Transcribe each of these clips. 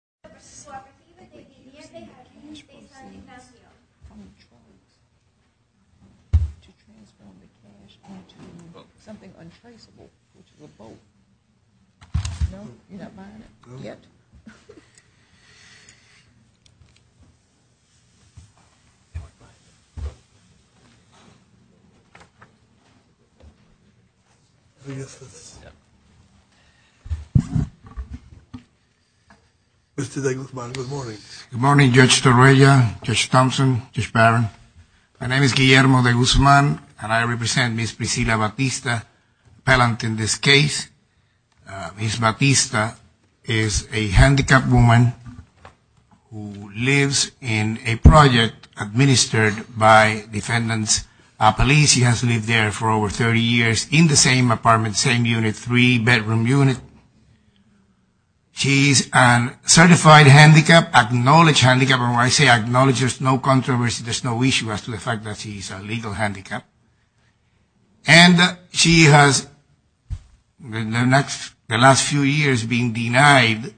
...to transform the cash into something untraceable, which is a boat. No, you're not buying it? No. Yet. Mr. De Guzman, good morning. Good morning, Judge Torreya, Judge Thompson, Judge Barron. My name is Guillermo De Guzman, and I represent Ms. Priscilla Batista, appellant in this case. Ms. Batista is a handicapped woman who lives in a project administered by defendant's police. She has lived there for over 30 years in the same apartment, same unit, three-bedroom unit. She's a certified handicapped, acknowledged handicapped. When I say acknowledged, there's no controversy, there's no issue as to the fact that she's a legal handicapped. And she has, in the last few years, been denied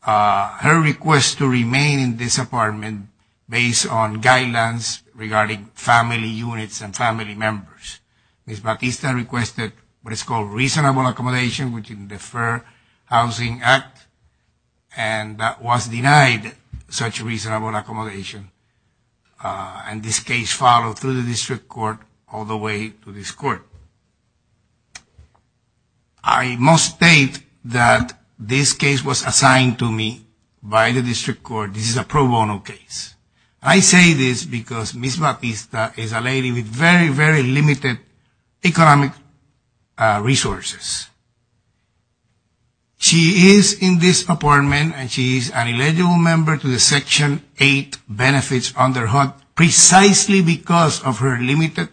her request to remain in this apartment based on guidelines regarding family units and family members. Ms. Batista requested what is called reasonable accommodation within the Fair Housing Act, and that was denied such reasonable accommodation. And this case followed through the district court all the way to this court. I must state that this case was assigned to me by the district court. This is a pro bono case. I say this because Ms. Batista is a lady with very, very limited economic resources. She is in this apartment, and she is an eligible member to the Section 8 benefits under HUD precisely because of her limited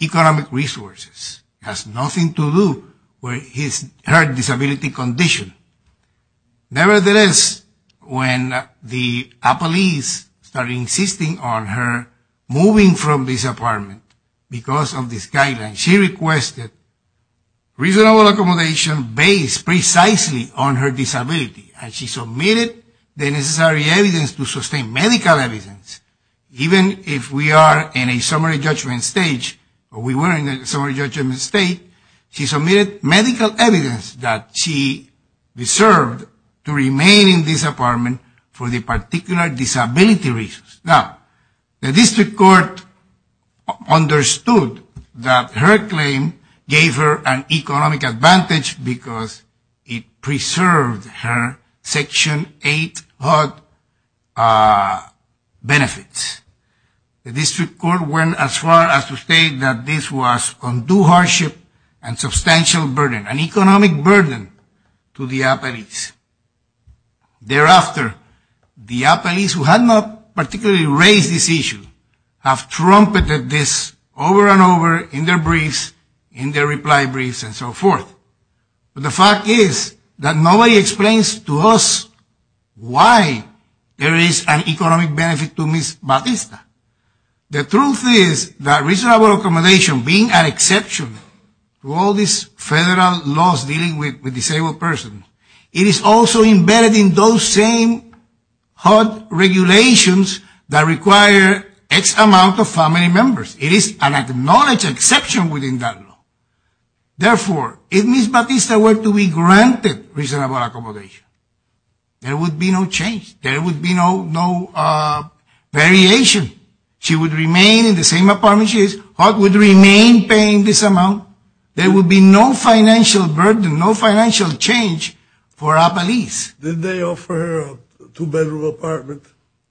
economic resources. It has nothing to do with her disability condition. Nevertheless, when the police started insisting on her moving from this apartment because of this guideline, she requested reasonable accommodation based precisely on her disability, and she submitted the necessary evidence to sustain medical evidence. Even if we are in a summary judgment stage, or we were in a summary judgment state, she submitted medical evidence that she deserved to remain in this apartment for the particular disability reasons. Now, the district court understood that her claim gave her an economic advantage because it preserved her Section 8 HUD benefits. The district court went as far as to state that this was undue hardship and substantial burden, an economic burden to the police. Thereafter, the police, who had not particularly raised this issue, have trumpeted this over and over in their briefs, in their reply briefs, and so forth. But the fact is that nobody explains to us why there is an economic benefit to Ms. Batista. The truth is that reasonable accommodation, being an exception to all these federal laws dealing with disabled persons, it is also embedded in those same HUD regulations that require X amount of family members. It is an acknowledged exception within that law. Therefore, if Ms. Batista were to be granted reasonable accommodation, there would be no change. There would be no variation. She would remain in the same apartment she is, HUD would remain paying this amount. There would be no financial burden, no financial change for our police. Did they offer her a two-bedroom apartment?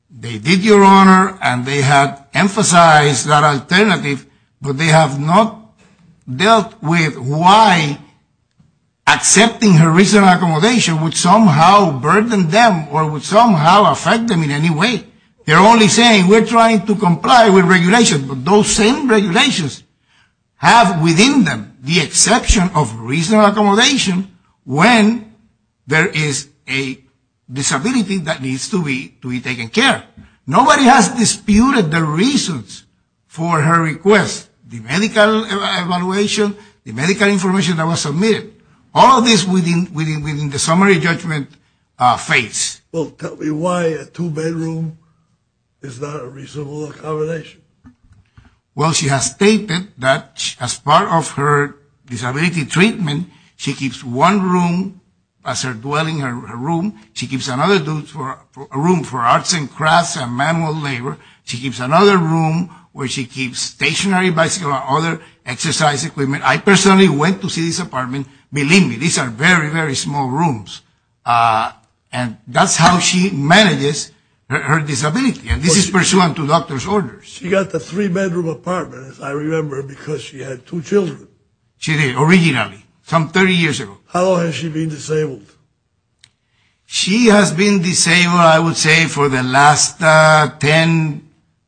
They did, Your Honor, and they have emphasized that alternative, but they have not dealt with why accepting her reasonable accommodation would somehow burden them or would somehow affect them in any way. They're only saying, we're trying to comply with regulations. Those same regulations have within them the exception of reasonable accommodation when there is a disability that needs to be taken care of. Nobody has disputed the reasons for her request. The medical evaluation, the medical information that was submitted, all of this within the summary judgment phase. Well, tell me why a two-bedroom is not a reasonable accommodation. Well, she has stated that as part of her disability treatment, she keeps one room as her dwelling room. She keeps another room for arts and crafts and manual labor. She keeps another room where she keeps stationary bicycle and other exercise equipment. I personally went to see this apartment. Believe me, these are very, very small rooms. And that's how she manages her disability, and this is pursuant to doctor's orders. She got the three-bedroom apartment, as I remember, because she had two children. She did, originally, some 30 years ago. How long has she been disabled? She has been disabled, I would say, for the last 10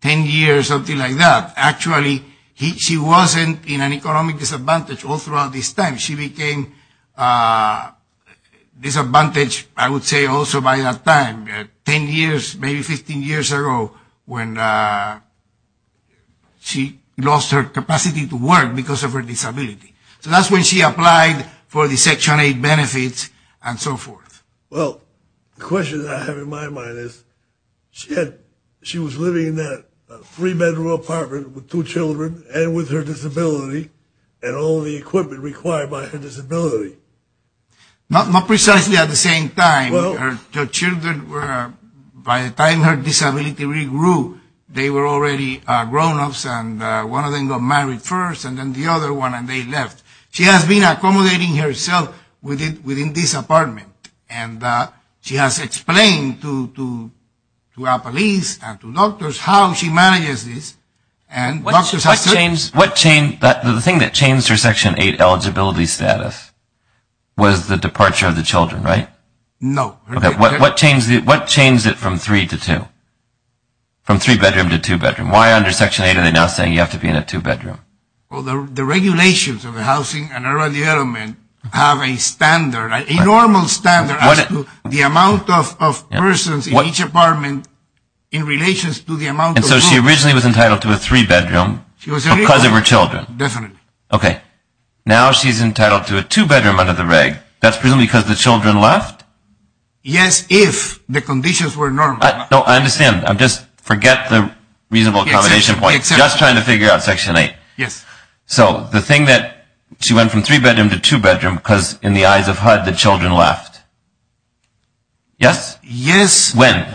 years, something like that. Actually, she wasn't in an economic disadvantage all throughout this time. She became disadvantaged, I would say, also by that time, 10 years, maybe 15 years ago, when she lost her capacity to work because of her disability. So that's when she applied for the Section 8 benefits and so forth. Well, the question I have in my mind is, she was living in that three-bedroom apartment with two children and with her disability and all the equipment required by her disability. Not precisely at the same time. Her children, by the time her disability regrew, they were already grown-ups, and one of them got married first and then the other one, and they left. She has been accommodating herself within this apartment, and she has explained to our police and to doctors how she manages this. The thing that changed her Section 8 eligibility status was the departure of the children, right? No. What changed it from three to two, from three-bedroom to two-bedroom? Why under Section 8 are they now saying you have to be in a two-bedroom? Well, the regulations of the Housing and Urban Development have a standard, a normal standard as to the amount of persons in each apartment in relation to the amount of rooms. And so she originally was entitled to a three-bedroom because of her children. Definitely. Okay. Now she's entitled to a two-bedroom under the reg. That's presumably because the children left? Yes, if the conditions were normal. No, I understand. Just forget the reasonable accommodation point. Just trying to figure out Section 8. Yes. So, the thing that she went from three-bedroom to two-bedroom because, in the eyes of HUD, the children left. Yes? Yes. When?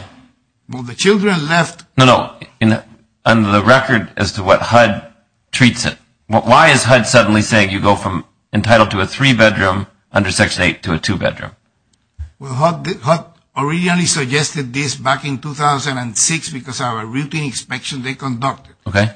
Well, the children left. No, no. On the record as to what HUD treats it, why is HUD suddenly saying you go from entitled to a three-bedroom under Section 8 to a two-bedroom? Well, HUD originally suggested this back in 2006 because of a routine inspection they conducted. Okay.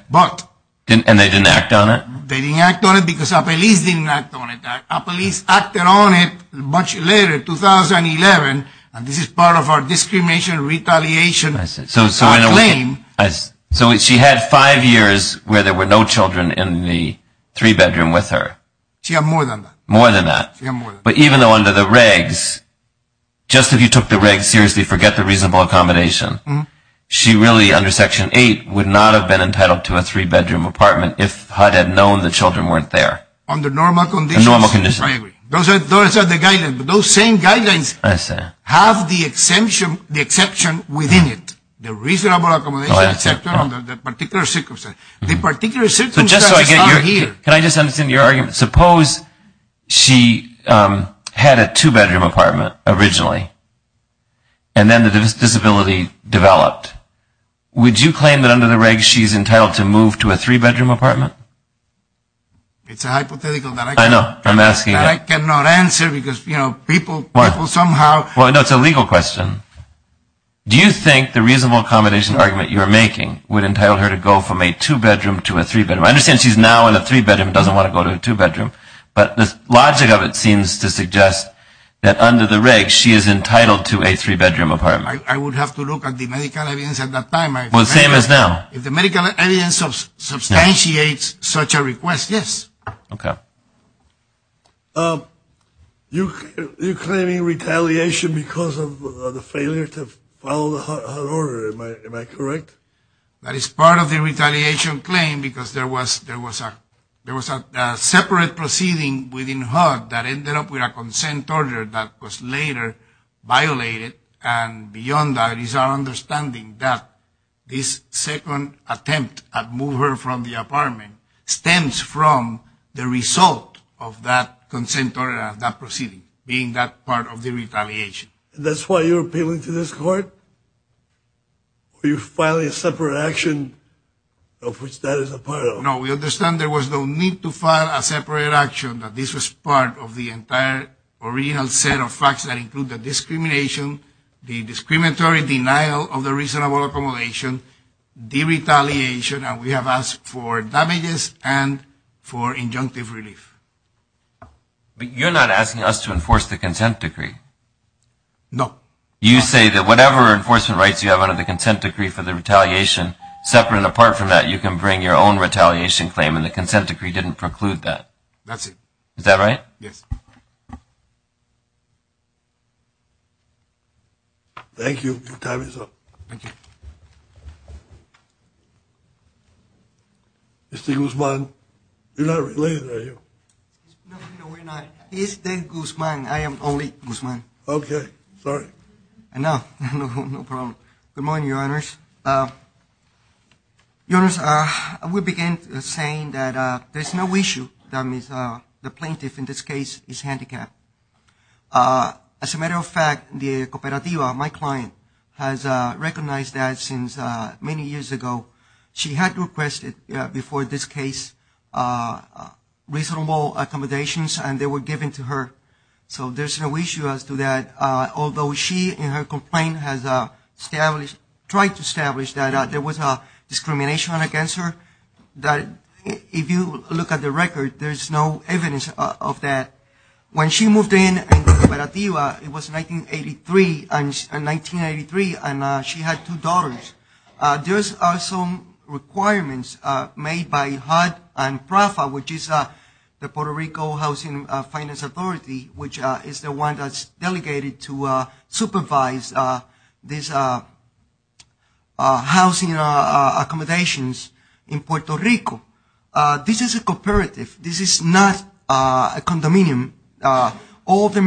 And they didn't act on it? They didn't act on it because our police didn't act on it. Our police acted on it much later, 2011, and this is part of our discrimination retaliation. So, she had five years where there were no children in the three-bedroom with her. She had more than that. More than that. She had more than that. But even though under the regs, just if you took the regs seriously, forget the reasonable accommodation, she really, under Section 8, would not have been entitled to a three-bedroom apartment if HUD had known the children weren't there. Under normal conditions? Under normal conditions. I agree. Those are the guidelines. Those same guidelines have the exception within it, the reasonable accommodation, et cetera, under the particular circumstances. The particular circumstances are here. Can I just understand your argument? Suppose she had a two-bedroom apartment originally, and then the disability developed. Would you claim that under the regs she's entitled to move to a three-bedroom apartment? It's a hypothetical that I cannot answer. Because, you know, people somehow. Well, no, it's a legal question. Do you think the reasonable accommodation argument you're making would entitle her to go from a two-bedroom to a three-bedroom? I understand she's now in a three-bedroom and doesn't want to go to a two-bedroom. But the logic of it seems to suggest that under the regs she is entitled to a three-bedroom apartment. I would have to look at the medical evidence at that time. Well, the same as now. If the medical evidence substantiates such a request, yes. Okay. You're claiming retaliation because of the failure to follow the HUD order, am I correct? That is part of the retaliation claim because there was a separate proceeding within HUD that ended up with a consent order that was later violated. And beyond that, it is our understanding that this second attempt at moving her from the apartment stems from the result of that consent order, that proceeding being that part of the retaliation. And that's why you're appealing to this court? Are you filing a separate action of which that is a part of? No, we understand there was no need to file a separate action, that this was part of the entire original set of facts that include the discrimination, the discriminatory denial of the reasonable accommodation, the retaliation, and we have asked for damages and for injunctive relief. But you're not asking us to enforce the consent decree. No. You say that whatever enforcement rights you have under the consent decree for the retaliation, separate and apart from that, you can bring your own retaliation claim, and the consent decree didn't preclude that. That's it. Is that right? Yes. Thank you. Your time is up. Thank you. Mr. Guzman, you're not related, are you? No, we're not. He is the Guzman. I am only Guzman. Okay. Sorry. No, no problem. Good morning, Your Honors. Your Honors, we begin by saying that there's no issue that the plaintiff in this case is handicapped. As a matter of fact, the cooperativa, my client, has recognized that since many years ago. She had requested before this case reasonable accommodations, and they were given to her. So there's no issue as to that. Although she, in her complaint, has tried to establish that there was discrimination against her, if you look at the record, there's no evidence of that. When she moved in, it was 1983, and she had two daughters. There are some requirements made by HUD and PRAFA, which is the Puerto Rico Housing Finance Authority, which is the one that's delegated to supervise these housing accommodations in Puerto Rico. This is a cooperativa. This is not a condominium. All the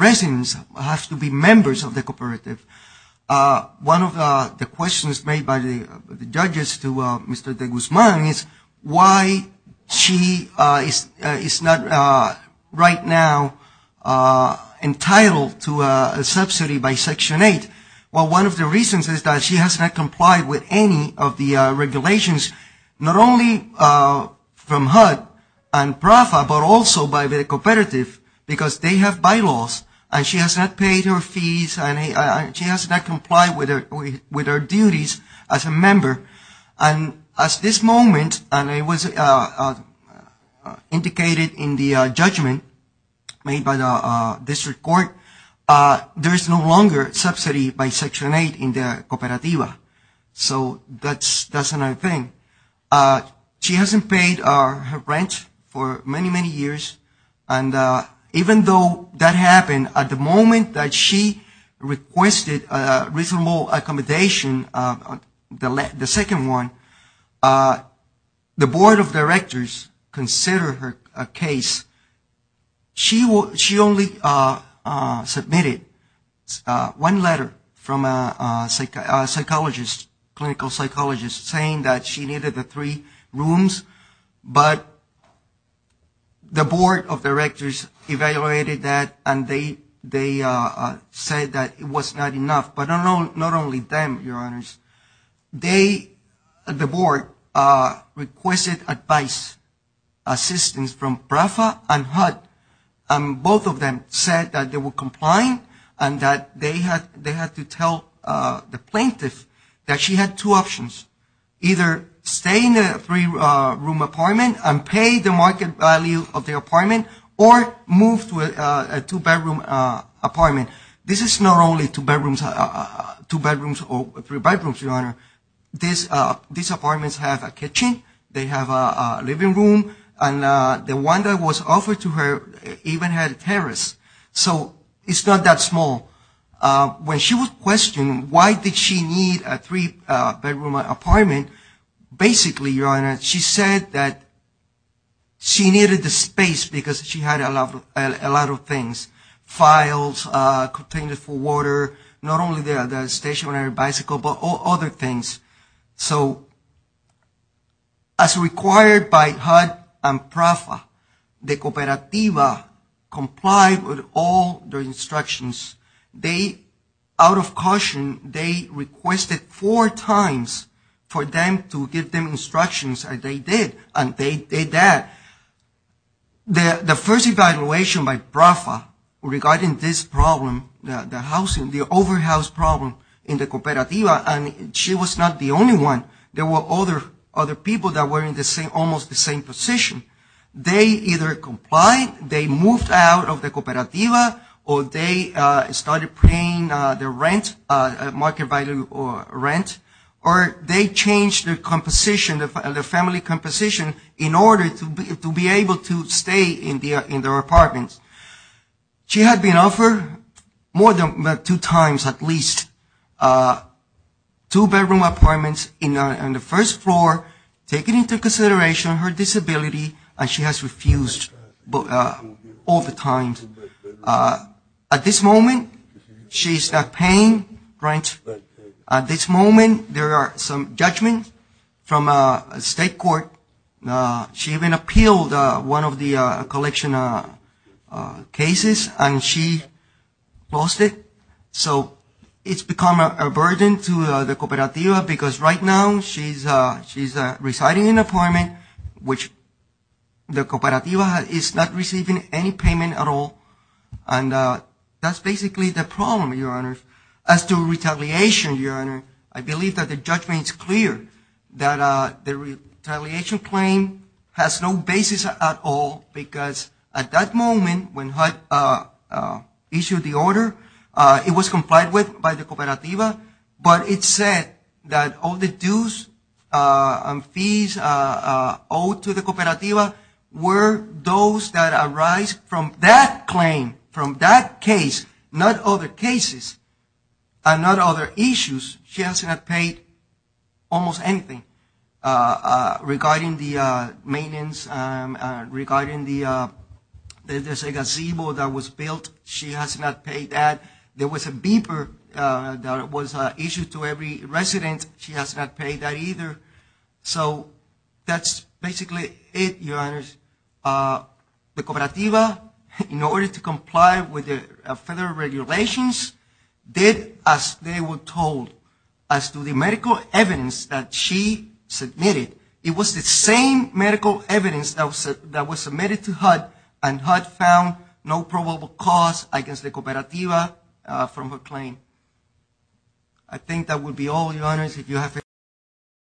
residents have to be members of the cooperativa. One of the questions made by the judges to Mr. de Guzman is why she is not right now entitled to a subsidy by Section 8. Well, one of the reasons is that she has not complied with any of the regulations, not only from HUD and PRAFA, but also by the cooperativa, because they have bylaws, and she has not paid her fees, and she has not complied with her duties as a member. And at this moment, and it was indicated in the judgment made by the district court, there is no longer subsidy by Section 8 in the cooperativa. So that's another thing. She hasn't paid her rent for many, many years, and even though that happened, at the moment that she requested reasonable accommodation, the second one, the board of directors considered her case. She only submitted one letter from a psychologist, clinical psychologist, saying that she needed the three rooms, but the board of directors evaluated that, and they said that it was not enough. But not only them, Your Honors, the board requested advice, assistance from PRAFA and HUD, and both of them said that they would comply and that they had to tell the plaintiff that she had two options. Either stay in a three-room apartment and pay the market value of the apartment, or move to a two-bedroom apartment. This is not only two bedrooms or three bedrooms, Your Honor. These apartments have a kitchen, they have a living room, and the one that was offered to her even had a terrace. So it's not that small. When she was questioned, why did she need a three-bedroom apartment, basically, Your Honor, she said that she needed the space because she had a lot of things, files, containers for water, not only the stationary bicycle, but other things. So as required by HUD and PRAFA, the Cooperativa complied with all the instructions. They, out of caution, they requested four times for them to give them instructions, and they did. And they did that. The first evaluation by PRAFA regarding this problem, the housing, the overhouse problem in the Cooperativa, and she was not the only one. There were other people that were in almost the same position. They either complied, they moved out of the Cooperativa, or they started paying their rent, market value rent, or they changed their composition, their family composition, in order to be able to stay in their apartments. She had been offered more than two times at least two-bedroom apartments on the first floor, taking into consideration her disability, and she has refused all the times. At this moment, she's paying rent. At this moment, there are some judgments from a state court. She even appealed one of the collection cases, and she lost it. So it's become a burden to the Cooperativa, because right now she's residing in an apartment, which the Cooperativa is not receiving any payment at all, and that's basically the problem, Your Honor. As to retaliation, Your Honor, I believe that the judgment is clear, that the retaliation claim has no basis at all, because at that moment, when HUD issued the order, it was complied with by the Cooperativa, but it said that all the dues and fees owed to the Cooperativa were those that arise from that claim, from that case, not other cases, and not other issues. She has not paid almost anything regarding the maintenance, regarding the gazebo that was built, she has not paid that. There was a beeper that was issued to every resident, she has not paid that either. So that's basically it, Your Honor. The Cooperativa, in order to comply with the federal regulations, did as they were told. As to the medical evidence that she submitted, it was the same medical evidence that was submitted to HUD, and HUD found no probable cause against the Cooperativa from her claim. I think that would be all, Your Honors.